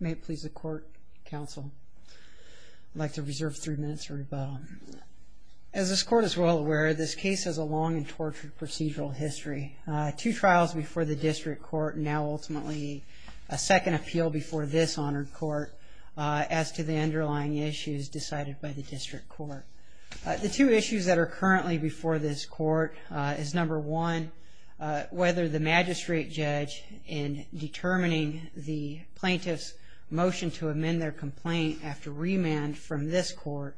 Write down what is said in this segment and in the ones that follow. May it please the Court, Counsel. I'd like to reserve three minutes for rebuttal. As this Court is well aware, this case has a long and tortured procedural history. Two trials before the District Court and now, ultimately, a second appeal before this Honored Court as to the underlying issues decided by the District Court. The two issues that are currently before this Court is, number one, whether the magistrate judge in determining the plaintiff's motion to amend their complaint after remand from this Court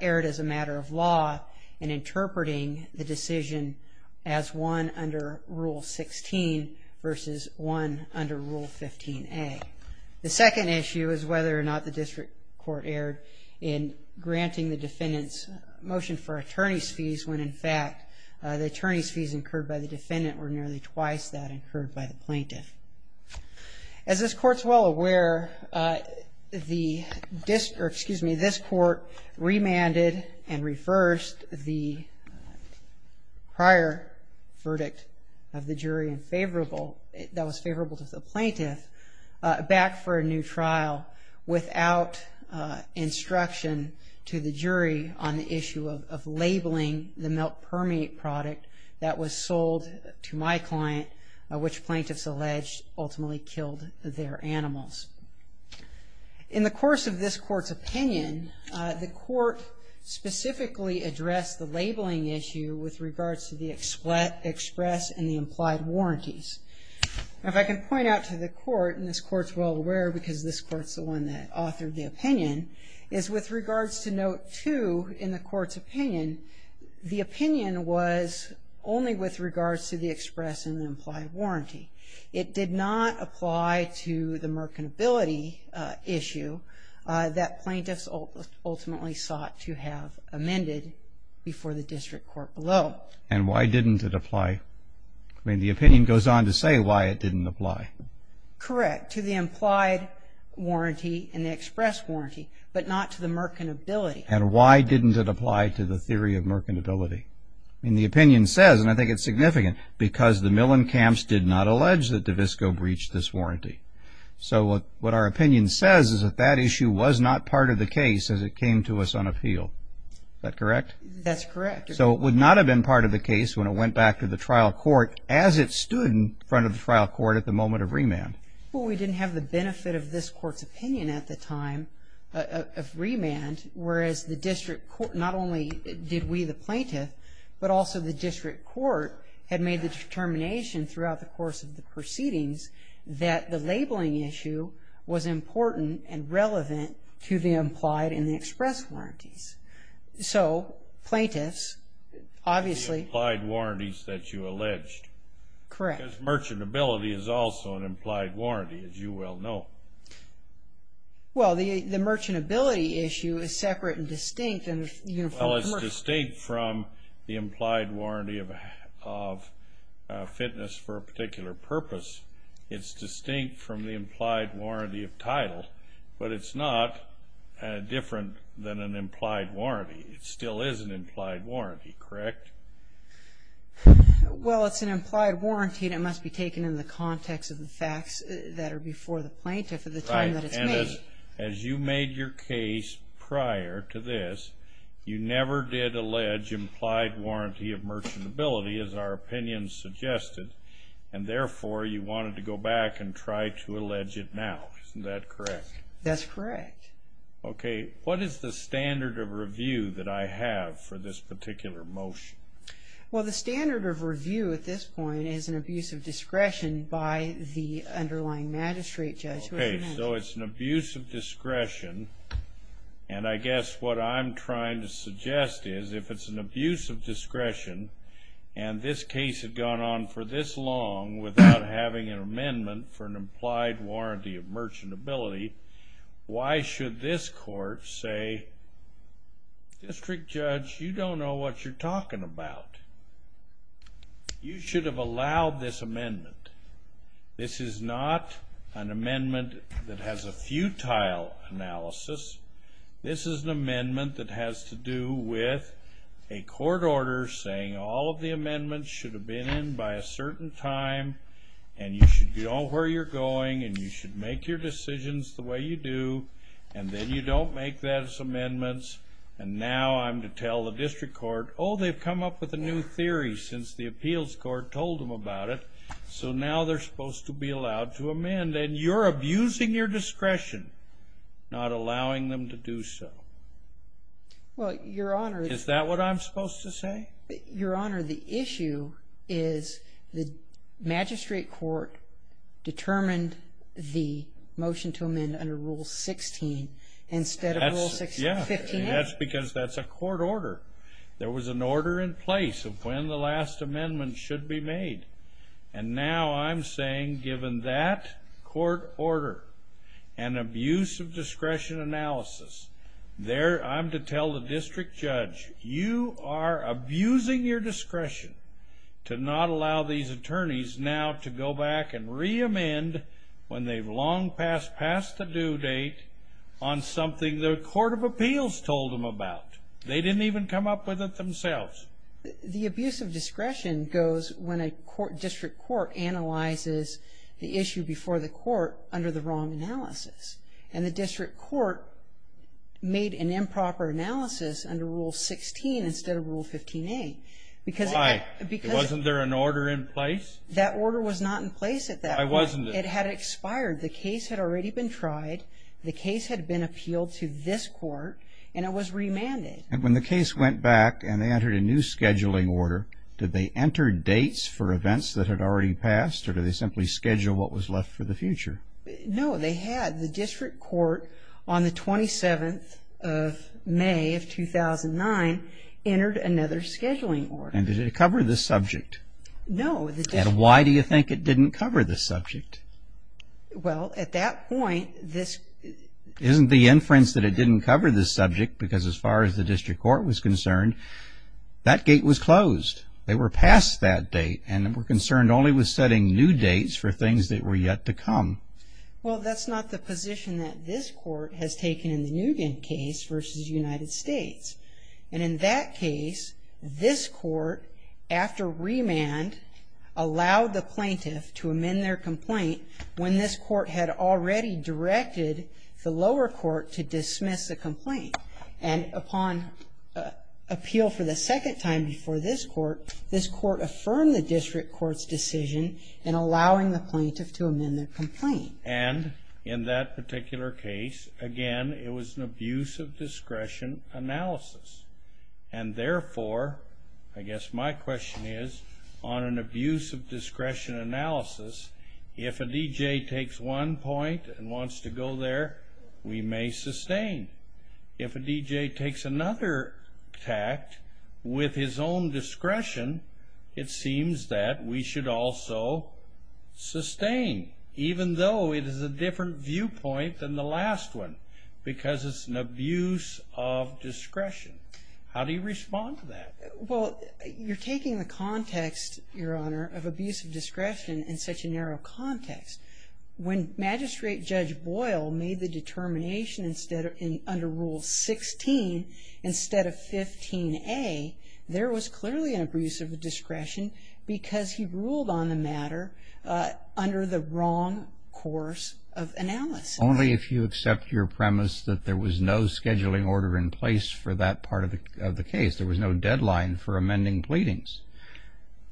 erred as a matter of law in interpreting the decision as one under Rule 16 versus one under Rule 15A. The second issue is whether or not the District Court erred in granting the defendant's motion for attorney's fees when, in fact, the attorney's fees incurred by the defendant were nearly twice that incurred by the plaintiff. As this Court is well aware, this Court remanded and reversed the prior verdict of the jury that was favorable to the plaintiff back for a new trial without instruction to the jury on the issue of labeling the milk permeate product that was sold to my client, which plaintiffs alleged ultimately killed their animals. In the course of this Court's opinion, the Court specifically addressed the labeling issue with regards to the express and the implied warranties. Now, if I can point out to the Court, and this Court's well aware because this Court's the one that authored the opinion, is with regards to Note 2 in the Court's opinion, the opinion was only with regards to the express and the implied warranty. It did not apply to the mercantility issue that plaintiffs ultimately sought to have amended before the District Court below. And why didn't it apply? I mean, the opinion goes on to say why it didn't apply. Correct. To the implied warranty and the express warranty, but not to the mercantility. And why didn't it apply to the theory of mercantility? I mean, the opinion says, and I think it's significant, because the Millen camps did not allege that DeVisco breached this warranty. So what our opinion says is that that issue was not part of the case as it came to us on appeal. Is that correct? That's correct. So it would not have been part of the case when it went back to the trial court as it stood in front of the trial court at the moment of remand. Well, we didn't have the benefit of this Court's opinion at the time of remand, whereas the District Court not only did we, the plaintiff, but also the District Court had made the determination throughout the course of the proceedings that the labeling issue was important and relevant to the implied and the express warranties. So, plaintiffs, obviously... The implied warranties that you alleged. Correct. Because merchantability is also an implied warranty, as you well know. Well, the merchantability issue is separate and distinct. Well, it's distinct from the implied warranty of fitness for a particular purpose. It's distinct from the implied warranty of title, but it's not different than an implied warranty. It still is an implied warranty, correct? Well, it's an implied warranty, and it must be taken in the context of the facts that are before the plaintiff at the time that it's made. As you made your case prior to this, you never did allege implied warranty of merchantability, as our opinion suggested, and therefore you wanted to go back and try to allege it now. Isn't that correct? That's correct. Okay. What is the standard of review that I have for this particular motion? Well, the standard of review at this point is an abuse of discretion by the underlying magistrate judge. Okay, so it's an abuse of discretion, and I guess what I'm trying to suggest is if it's an abuse of discretion and this case had gone on for this long without having an amendment for an implied warranty of merchantability, why should this court say, District Judge, you don't know what you're talking about. You should have allowed this amendment. This is not an amendment that has a futile analysis. This is an amendment that has to do with a court order saying all of the amendments should have been in by a certain time, and you should know where you're going, and you should make your decisions the way you do, and then you don't make those amendments, and now I'm to tell the district court, oh, they've come up with a new theory since the appeals court told them about it, so now they're supposed to be allowed to amend, and you're abusing your discretion, not allowing them to do so. Well, Your Honor. Is that what I'm supposed to say? Your Honor, the issue is the magistrate court determined the motion to amend under Rule 16 instead of Rule 15A. Yeah, that's because that's a court order. There was an order in place of when the last amendment should be made, and now I'm saying given that court order and abuse of discretion analysis, there I'm to tell the district judge, you are abusing your discretion to not allow these attorneys now to go back and reamend when they've long passed the due date on something the court of appeals told them about. They didn't even come up with it themselves. The abuse of discretion goes when a district court analyzes the issue before the court under the wrong analysis, and the district court made an improper analysis under Rule 16 instead of Rule 15A. Why? Wasn't there an order in place? That order was not in place at that point. Why wasn't it? It had expired. The case had already been tried. The case had been appealed to this court, and it was remanded. And when the case went back and they entered a new scheduling order, did they enter dates for events that had already passed, or did they simply schedule what was left for the future? No, they had. The district court, on the 27th of May of 2009, entered another scheduling order. And did it cover this subject? No. And why do you think it didn't cover this subject? Well, at that point this… Isn't the inference that it didn't cover this subject, because as far as the district court was concerned, that gate was closed. They were past that date and were concerned only with setting new dates for things that were yet to come. Well, that's not the position that this court has taken in the Nugent case versus the United States. And in that case, this court, after remand, allowed the plaintiff to amend their complaint And upon appeal for the second time before this court, this court affirmed the district court's decision in allowing the plaintiff to amend their complaint. And in that particular case, again, it was an abuse of discretion analysis. And therefore, I guess my question is, on an abuse of discretion analysis, if a DJ takes one point and wants to go there, we may sustain. If a DJ takes another tact with his own discretion, it seems that we should also sustain, even though it is a different viewpoint than the last one, because it's an abuse of discretion. How do you respond to that? Well, you're taking the context, Your Honor, of abuse of discretion in such a narrow context. When Magistrate Judge Boyle made the determination under Rule 16, instead of 15A, there was clearly an abuse of discretion because he ruled on the matter under the wrong course of analysis. Only if you accept your premise that there was no scheduling order in place for that part of the case. There was no deadline for amending pleadings.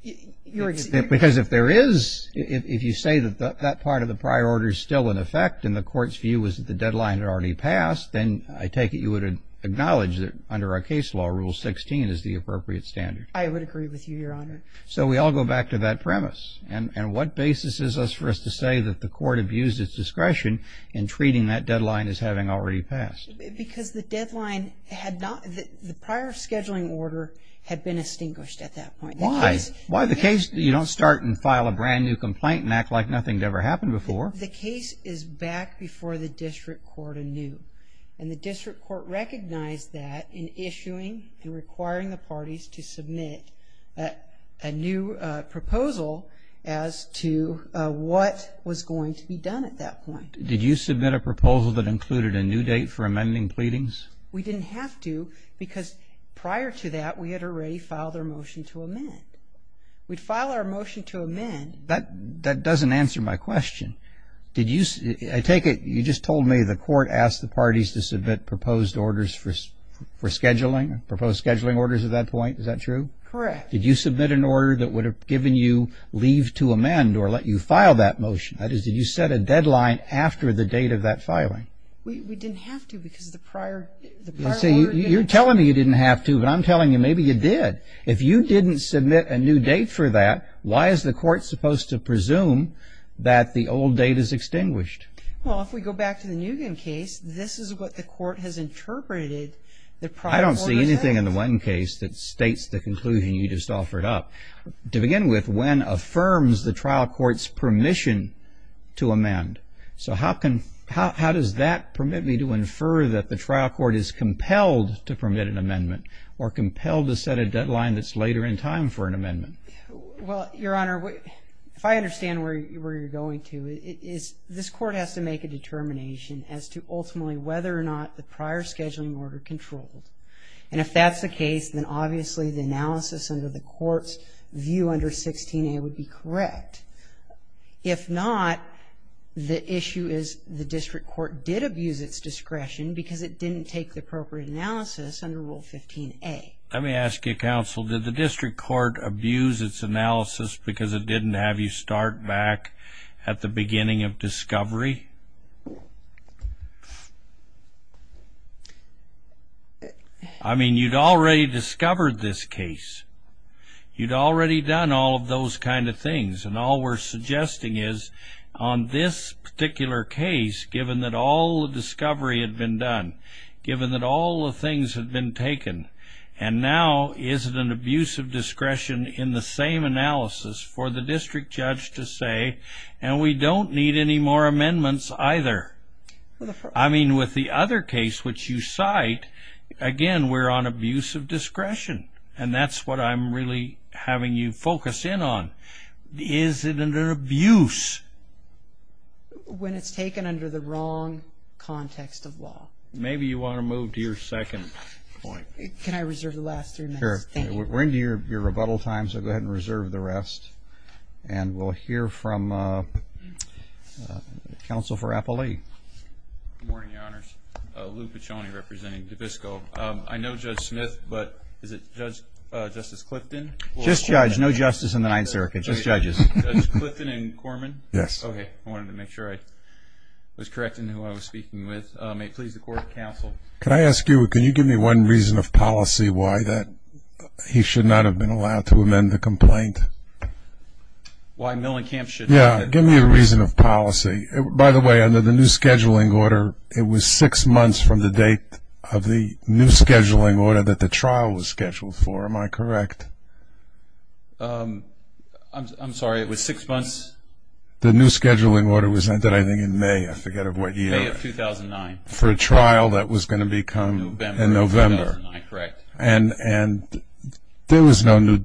Because if there is, if you say that that part of the prior order is still in effect and the court's view is that the deadline had already passed, then I take it you would acknowledge that under our case law, Rule 16 is the appropriate standard. I would agree with you, Your Honor. So we all go back to that premise. And what basis is this for us to say that the court abused its discretion in treating that deadline as having already passed? Because the deadline had not, the prior scheduling order had been extinguished at that point. Why? Why the case, you don't start and file a brand new complaint and act like nothing had ever happened before. The case is back before the district court anew. And the district court recognized that in issuing and requiring the parties to submit a new proposal as to what was going to be done at that point. Did you submit a proposal that included a new date for amending pleadings? We didn't have to because prior to that we had already filed our motion to amend. We'd file our motion to amend. That doesn't answer my question. Did you, I take it you just told me the court asked the parties to submit proposed orders for scheduling, proposed scheduling orders at that point. Is that true? Correct. Did you submit an order that would have given you leave to amend or let you file that motion? That is, did you set a deadline after the date of that filing? We didn't have to because the prior order. You're telling me you didn't have to, but I'm telling you maybe you did. If you didn't submit a new date for that, why is the court supposed to presume that the old date is extinguished? Well, if we go back to the Nugent case, this is what the court has interpreted the prior order as. I don't see anything in the Nugent case that states the conclusion you just offered up. To begin with, when affirms the trial court's permission to amend. So how does that permit me to infer that the trial court is compelled to permit an amendment or compelled to set a deadline that's later in time for an amendment? Well, Your Honor, if I understand where you're going to, this court has to make a determination as to ultimately whether or not the prior scheduling order controlled. And if that's the case, then obviously the analysis under the court's view under 16A would be correct. If not, the issue is the district court did abuse its discretion because it didn't take the appropriate analysis under Rule 15A. Let me ask you, counsel, did the district court abuse its analysis because it didn't have you start back at the beginning of discovery? I mean, you'd already discovered this case. You'd already done all of those kind of things. And all we're suggesting is on this particular case, given that all the discovery had been done, given that all the things had been taken, and now is it an abuse of discretion in the same analysis for the district judge to say, and we don't need any more amendments either. I mean, with the other case which you cite, again, we're on abuse of discretion. And that's what I'm really having you focus in on. Is it an abuse? When it's taken under the wrong context of law. Maybe you want to move to your second point. Can I reserve the last three minutes? Sure. We're into your rebuttal time, so go ahead and reserve the rest. And we'll hear from counsel for Appelee. Good morning, Your Honors. Lou Piccioni representing DePisco. I know Judge Smith, but is it Justice Clifton? Just judge. No justice in the Ninth Circuit. Just judges. Judge Clifton and Corman? Yes. Okay. May it please the court and counsel. Can I ask you, can you give me one reason of policy why that he should not have been allowed to amend the complaint? Why Millenkamp should not have been allowed? Yeah, give me a reason of policy. By the way, under the new scheduling order, it was six months from the date of the new scheduling order that the trial was scheduled for. Am I correct? I'm sorry, it was six months? The new scheduling order was ended, I think, in May. I forget of what year. May of 2009. For a trial that was going to become in November. Correct. And there was no new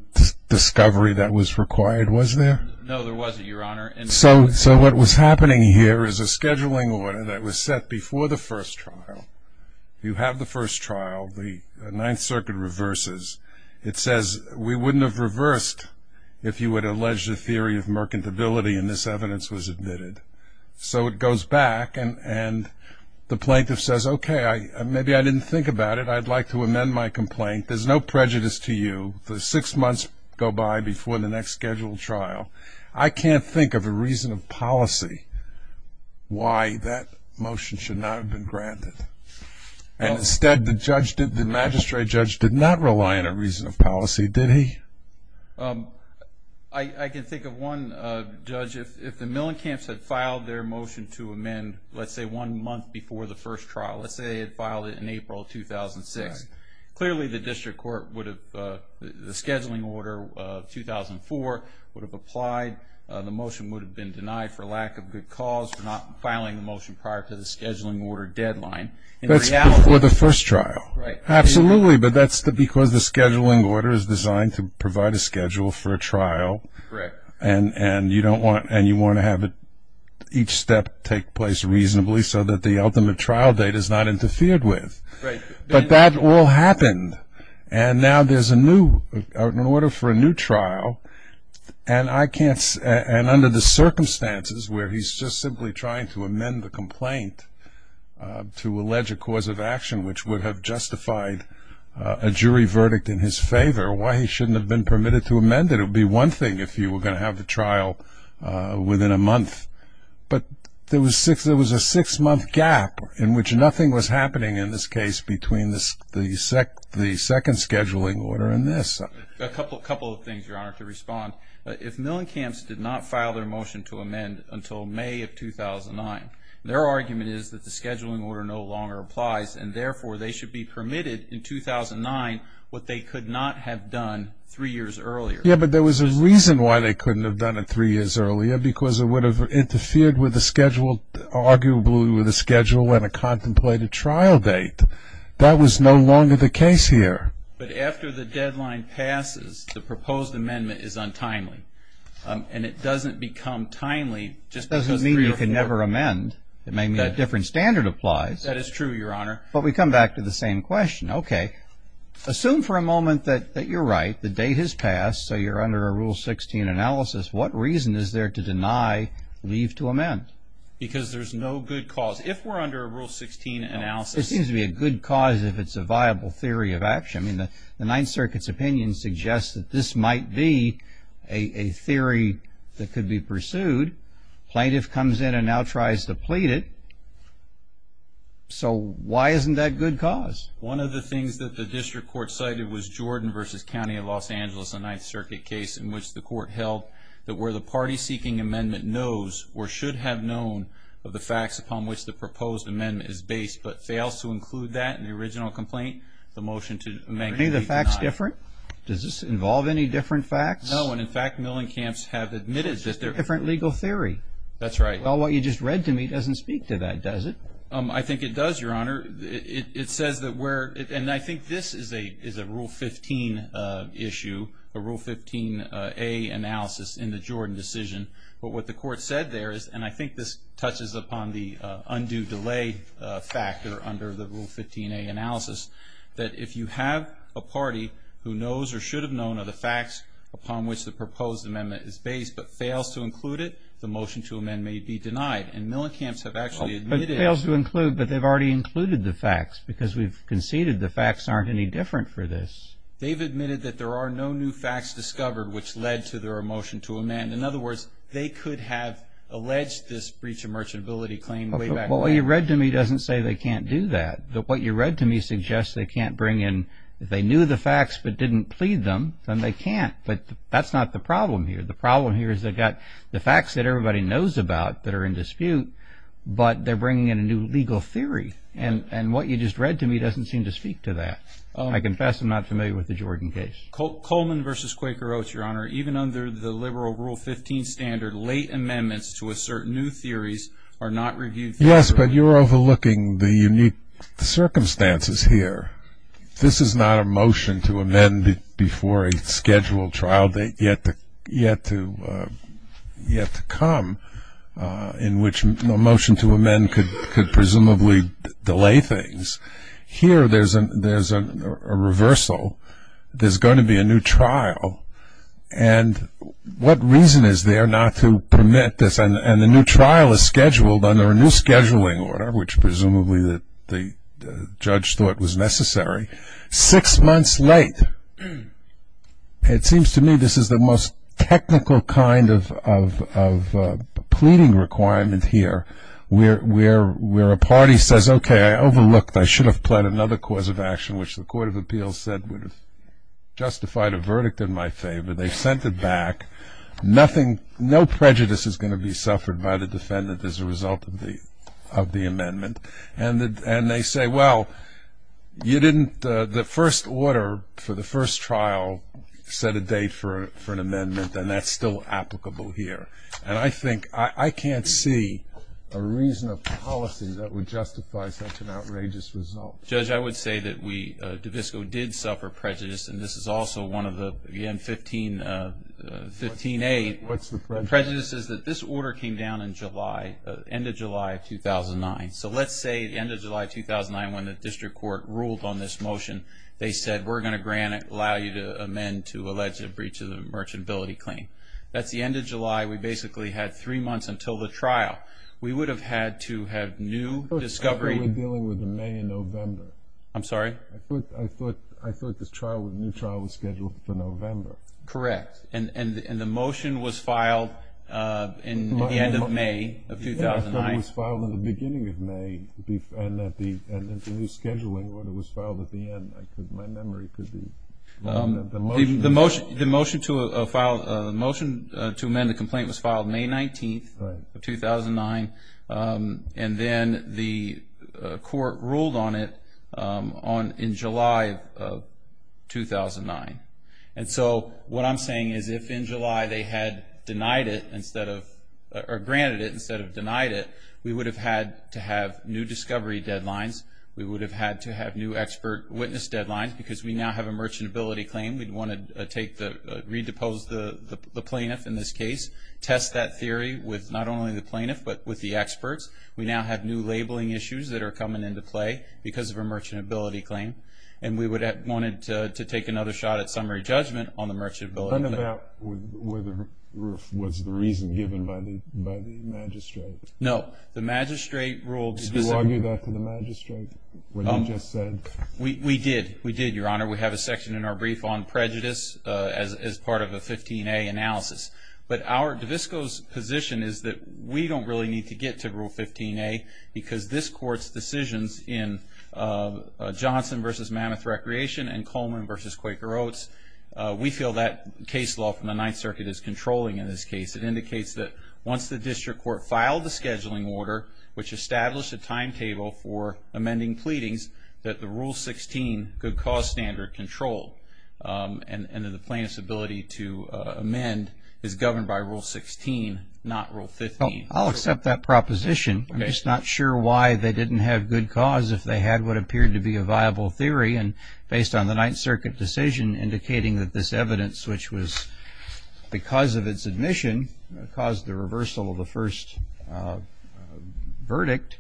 discovery that was required, was there? No, there wasn't, Your Honor. So what was happening here is a scheduling order that was set before the first trial. You have the first trial. The Ninth Circuit reverses. It says we wouldn't have reversed if you had alleged a theory of mercantility and this evidence was admitted. So it goes back and the plaintiff says, okay, maybe I didn't think about it. I'd like to amend my complaint. There's no prejudice to you. The six months go by before the next scheduled trial. I can't think of a reason of policy why that motion should not have been granted. And instead, the magistrate judge did not rely on a reason of policy, did he? I can think of one, Judge. If the Millencamps had filed their motion to amend, let's say, one month before the first trial, let's say they had filed it in April of 2006, clearly the district court would have, the scheduling order of 2004 would have applied. The motion would have been denied for lack of good cause, for not filing the motion prior to the scheduling order deadline. That's before the first trial. Right. Absolutely. But that's because the scheduling order is designed to provide a schedule for a trial. Correct. And you want to have each step take place reasonably so that the ultimate trial date is not interfered with. But that all happened. And now there's a new order for a new trial, and under the circumstances where he's just simply trying to amend the complaint to allege a cause of action which would have justified a jury verdict in his favor, why he shouldn't have been permitted to amend it? It would be one thing if you were going to have the trial within a month. But there was a six-month gap in which nothing was happening in this case between the second scheduling order and this. A couple of things, Your Honor, to respond. If Millencamps did not file their motion to amend until May of 2009, their argument is that the scheduling order no longer applies, and therefore they should be permitted in 2009 what they could not have done three years earlier. Yeah, but there was a reason why they couldn't have done it three years earlier, because it would have interfered with the schedule, arguably with a schedule and a contemplated trial date. That was no longer the case here. But after the deadline passes, the proposed amendment is untimely. And it doesn't become timely just because three or four. And it may mean a different standard applies. That is true, Your Honor. But we come back to the same question. Okay. Assume for a moment that you're right, the date has passed, so you're under a Rule 16 analysis. What reason is there to deny leave to amend? Because there's no good cause. If we're under a Rule 16 analysis. There seems to be a good cause if it's a viable theory of action. I mean, the Ninth Circuit's opinion suggests that this might be a theory that could be pursued. Plaintiff comes in and now tries to plead it. So why isn't that good cause? One of the things that the district court cited was Jordan v. County of Los Angeles, a Ninth Circuit case, in which the court held that where the party-seeking amendment knows or should have known of the facts upon which the proposed amendment is based but fails to include that in the original complaint, the motion to amend could be denied. Are any of the facts different? Does this involve any different facts? No. And, in fact, Millenkamp's have admitted that they're- Different legal theory. That's right. Well, what you just read to me doesn't speak to that, does it? I think it does, Your Honor. It says that where, and I think this is a Rule 15 issue, a Rule 15a analysis in the Jordan decision. But what the court said there is, and I think this touches upon the undue delay factor under the Rule 15a analysis, that if you have a party who knows or should have known of the facts upon which the proposed amendment is based but fails to include it, the motion to amend may be denied. And Millenkamp's have actually admitted- But fails to include, but they've already included the facts because we've conceded the facts aren't any different for this. They've admitted that there are no new facts discovered which led to their motion to amend. In other words, they could have alleged this breach of merchantability claim way back then. Well, what you read to me doesn't say they can't do that. What you read to me suggests they can't bring in- If they knew the facts but didn't plead them, then they can't. But that's not the problem here. The problem here is they've got the facts that everybody knows about that are in dispute, but they're bringing in a new legal theory. And what you just read to me doesn't seem to speak to that. I confess I'm not familiar with the Jordan case. Coleman versus Quaker Oats, Your Honor. Even under the liberal Rule 15 standard, late amendments to assert new theories are not reviewed- Yes, but you're overlooking the unique circumstances here. This is not a motion to amend before a scheduled trial date yet to come in which a motion to amend could presumably delay things. Here there's a reversal. There's going to be a new trial. And what reason is there not to permit this? And the new trial is scheduled under a new scheduling order, which presumably the judge thought was necessary, six months late. It seems to me this is the most technical kind of pleading requirement here where a party says, okay, I overlooked. I should have pled another cause of action, which the Court of Appeals said would have justified a verdict in my favor. They've sent it back. No prejudice is going to be suffered by the defendant as a result of the amendment. And they say, well, you didn't the first order for the first trial set a date for an amendment, and that's still applicable here. And I think I can't see a reason of policy that would justify such an outrageous result. Judge, I would say that we, DAVISCO, did suffer prejudice, and this is also one of the, again, 15A prejudices, that this order came down in July, end of July of 2009. So let's say end of July of 2009 when the district court ruled on this motion, they said we're going to allow you to amend to allege a breach of the merchantability claim. That's the end of July. We basically had three months until the trial. We would have had to have new discovery. I thought we were dealing with the May and November. I'm sorry? I thought the new trial was scheduled for November. Correct. And the motion was filed at the end of May of 2009. It was filed at the beginning of May, and the new scheduling order was filed at the end. My memory could be wrong. The motion to amend the complaint was filed May 19th of 2009, and then the court ruled on it in July of 2009. And so what I'm saying is if in July they had denied it instead of or granted it instead of denied it, we would have had to have new discovery deadlines. We would have had to have new expert witness deadlines because we now have a merchantability claim. We'd want to redepose the plaintiff in this case, test that theory with not only the plaintiff but with the experts. We now have new labeling issues that are coming into play because of a merchantability claim, and we would have wanted to take another shot at summary judgment on the merchantability claim. Was the reason given by the magistrate? No. The magistrate ruled specifically. Did you argue that to the magistrate when he just said? We did. We did, Your Honor. We have a section in our brief on prejudice as part of a 15A analysis. But our DAVISCO's position is that we don't really need to get to Rule 15A because this Court's decisions in Johnson v. Mammoth Recreation and Coleman v. Quaker Oats, we feel that case law from the Ninth Circuit is controlling in this case. It indicates that once the district court filed the scheduling order, which established a timetable for amending pleadings, that the Rule 16 good cause standard controlled, and that the plaintiff's ability to amend is governed by Rule 16, not Rule 15. I'll accept that proposition. I'm just not sure why they didn't have good cause if they had what appeared to be a viable theory. And based on the Ninth Circuit decision indicating that this evidence, which was because of its admission, caused the reversal of the first verdict,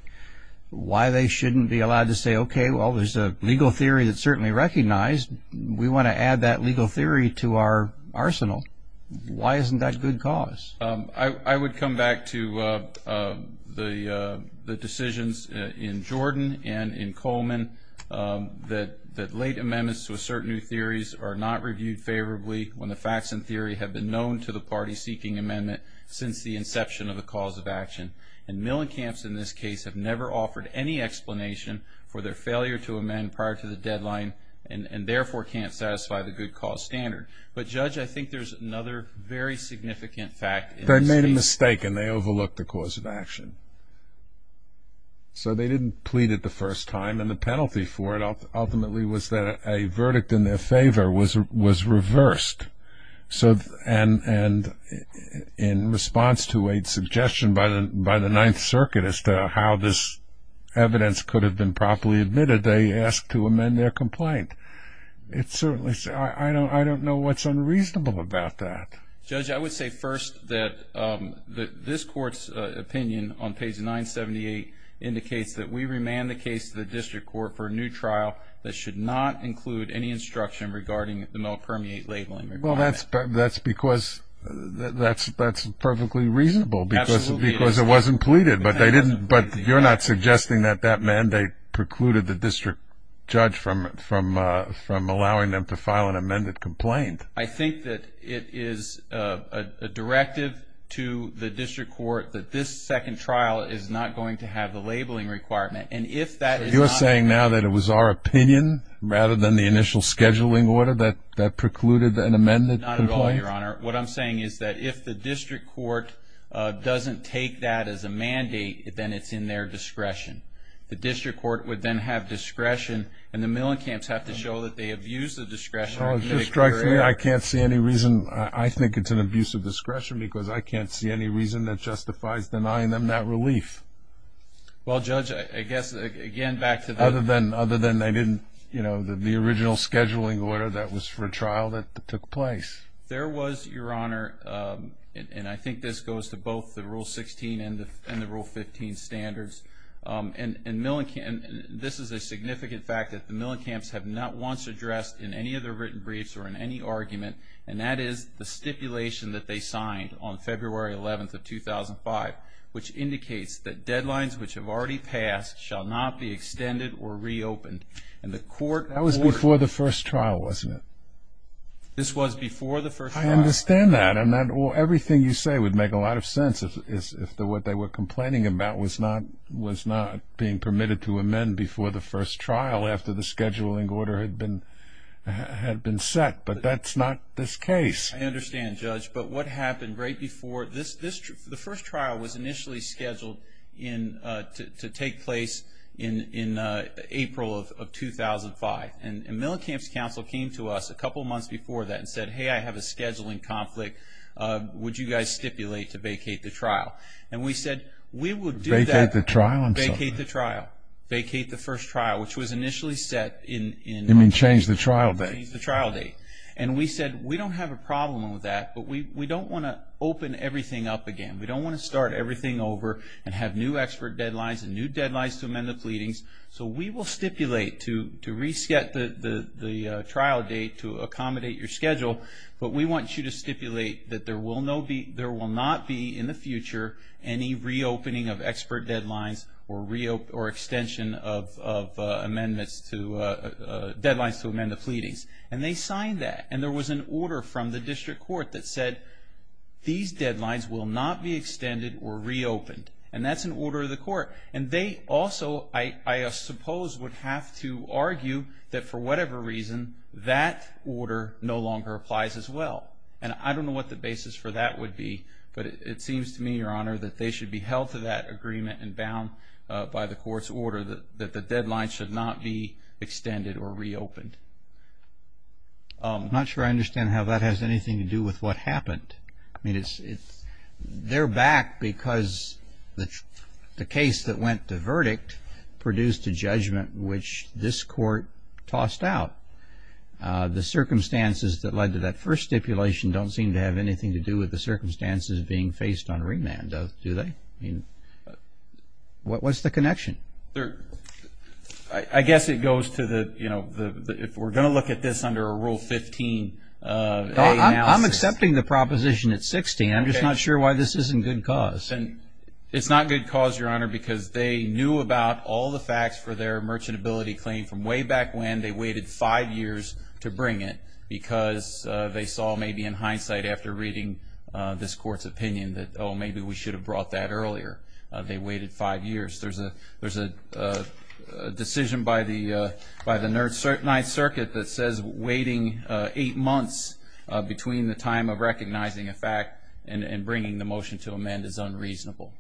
why they shouldn't be allowed to say, okay, well, there's a legal theory that's certainly recognized. We want to add that legal theory to our arsenal. Why isn't that good cause? I would come back to the decisions in Jordan and in Coleman that late amendments to assert new theories are not reviewed favorably when the facts and theory have been known to the party seeking amendment since the inception of the cause of action. And Millencamps in this case have never offered any explanation for their failure to amend prior to the deadline and therefore can't satisfy the good cause standard. But, Judge, I think there's another very significant fact. They made a mistake and they overlooked the cause of action. So they didn't plead it the first time, and the penalty for it ultimately was that a verdict in their favor was reversed. And in response to a suggestion by the Ninth Circuit as to how this evidence could have been properly admitted, they asked to amend their complaint. I don't know what's unreasonable about that. Judge, I would say first that this Court's opinion on page 978 indicates that we remand the case to the district court for a new trial that should not include any instruction regarding the malpermeate labeling. Well, that's because that's perfectly reasonable because it wasn't pleaded, but you're not suggesting that that mandate precluded the district judge from allowing them to file an amended complaint. I think that it is a directive to the district court that this second trial is not going to have the labeling requirement. So you're saying now that it was our opinion rather than the initial scheduling order that precluded an amended complaint? Not at all, Your Honor. What I'm saying is that if the district court doesn't take that as a mandate, then it's in their discretion. The district court would then have discretion, and the Millen camps have to show that they abuse the discretion. I can't see any reason. I think it's an abuse of discretion because I can't see any reason that justifies denying them that relief. Well, Judge, I guess, again, back to the original scheduling order that was for a trial that took place. There was, Your Honor, and I think this goes to both the Rule 16 and the Rule 15 standards, and this is a significant fact that the Millen camps have not once addressed in any of their written briefs or in any argument, and that is the stipulation that they signed on February 11th of 2005, which indicates that deadlines which have already passed shall not be extended or reopened. That was before the first trial, wasn't it? This was before the first trial. I understand that, and everything you say would make a lot of sense if what they were complaining about was not being permitted to amend before the first trial after the scheduling order had been set, but that's not this case. I understand, Judge, but what happened right before this, the first trial was initially scheduled to take place in April of 2005, and Millen Camps Counsel came to us a couple months before that and said, Hey, I have a scheduling conflict. Would you guys stipulate to vacate the trial? And we said we would do that. Vacate the trial? Vacate the trial. Vacate the first trial, which was initially set in March. You mean change the trial date? Change the trial date, and we said we don't have a problem with that, but we don't want to open everything up again. We don't want to start everything over and have new expert deadlines and new deadlines to amend the pleadings, so we will stipulate to reset the trial date to accommodate your schedule, but we want you to stipulate that there will not be in the future any reopening of expert deadlines or extension of deadlines to amend the pleadings, and they signed that, and there was an order from the district court that said these deadlines will not be extended or reopened, and that's an order of the court. And they also, I suppose, would have to argue that for whatever reason that order no longer applies as well, and I don't know what the basis for that would be, but it seems to me, Your Honor, that they should be held to that agreement and bound by the court's order that the deadlines should not be extended or reopened. I'm not sure I understand how that has anything to do with what happened. I mean, they're back because the case that went to verdict produced a judgment which this court tossed out. The circumstances that led to that first stipulation don't seem to have anything to do with the circumstances being faced on remand, do they? I mean, what's the connection? I guess it goes to the, you know, if we're going to look at this under a Rule 15A analysis. I'm accepting the proposition at 60. I'm just not sure why this isn't good cause. It's not good cause, Your Honor, because they knew about all the facts for their merchantability claim from way back when. They waited five years to bring it because they saw maybe in hindsight after reading this court's opinion that, oh, maybe we should have brought that earlier. They waited five years. There's a decision by the Ninth Circuit that says waiting eight months between the time of recognizing a fact and bringing the motion to amend is unreasonable.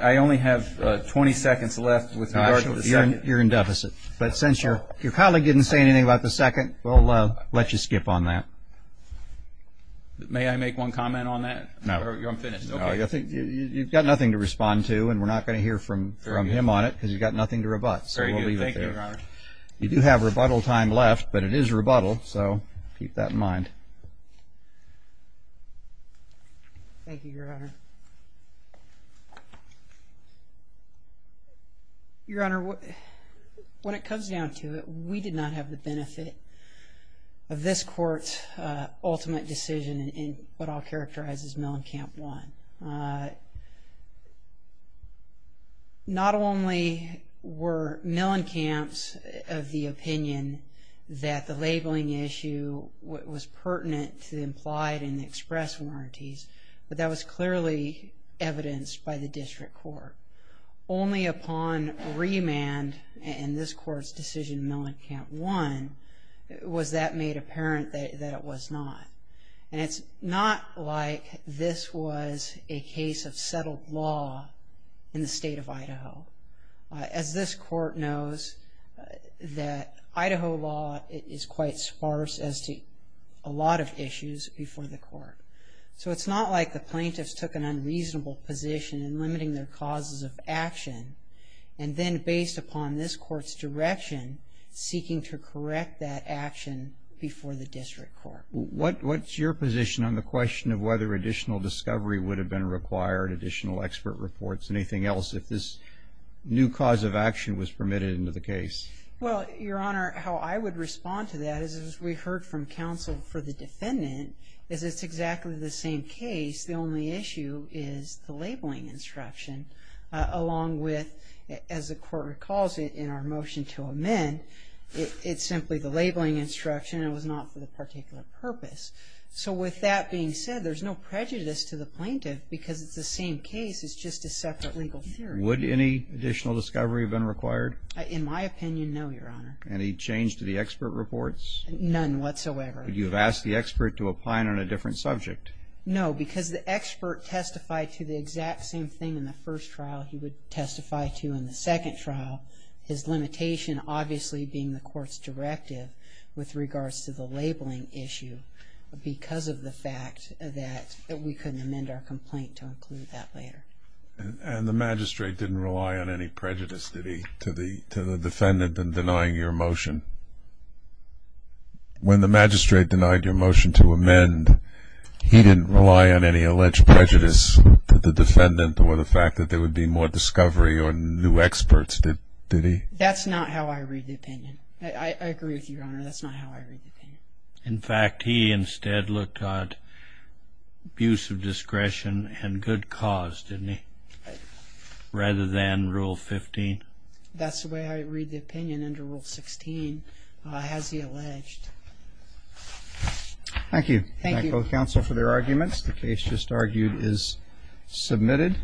I only have 20 seconds left with regard to the second. You're in deficit. But since your colleague didn't say anything about the second, we'll let you skip on that. May I make one comment on that? No. I'm finished. You've got nothing to respond to and we're not going to hear from him on it cause you've got nothing to rebut. So we'll leave it there. Thank you, Your Honor. You do have rebuttal time left, but it is rebuttal, so keep that in mind. Thank you, Your Honor. Your Honor, when it comes down to it, we did not have the benefit of this court's ultimate decision in what I'll characterize as Mellencamp I. Not only were Mellencamps of the opinion that the labeling issue was pertinent to the implied and expressed warranties, but that was clearly evidenced by the district court. Only upon remand in this court's decision, Mellencamp I, was that made apparent that it was not. And it's not like this was a case of settled law in the state of Idaho. As this court knows, that Idaho law is quite sparse as to a lot of issues before the court. So it's not like the plaintiffs took an unreasonable position in limiting their causes of action, and then based upon this court's direction, seeking to correct that action before the district court. What's your position on the question of whether additional discovery would have been required, additional expert reports, anything else if this new cause of action was permitted into the case? Well, Your Honor, how I would respond to that is, as we heard from counsel for the defendant, is it's exactly the same case. The only issue is the labeling instruction, along with, as the court recalls it in our motion to amend, it's simply the labeling instruction, and it was not for the particular purpose. So with that being said, there's no prejudice to the plaintiff because it's the same case, it's just a separate legal theory. Would any additional discovery have been required? In my opinion, no, Your Honor. Any change to the expert reports? None whatsoever. Would you have asked the expert to apply it on a different subject? No, because the expert testified to the exact same thing in the first trial he would testify to in the second trial, his limitation obviously being the court's directive with regards to the labeling issue because of the fact that we couldn't amend our complaint to include that later. And the magistrate didn't rely on any prejudice, did he, to the defendant in denying your motion? When the magistrate denied your motion to amend, he didn't rely on any alleged prejudice to the defendant or the fact that there would be more discovery or new experts, did he? That's not how I read the opinion. I agree with you, Your Honor. That's not how I read the opinion. In fact, he instead looked at abuse of discretion and good cause, didn't he, rather than Rule 15? That's the way I read the opinion under Rule 16, as he alleged. Thank you. Thank both counsel for their arguments. The case just argued is submitted.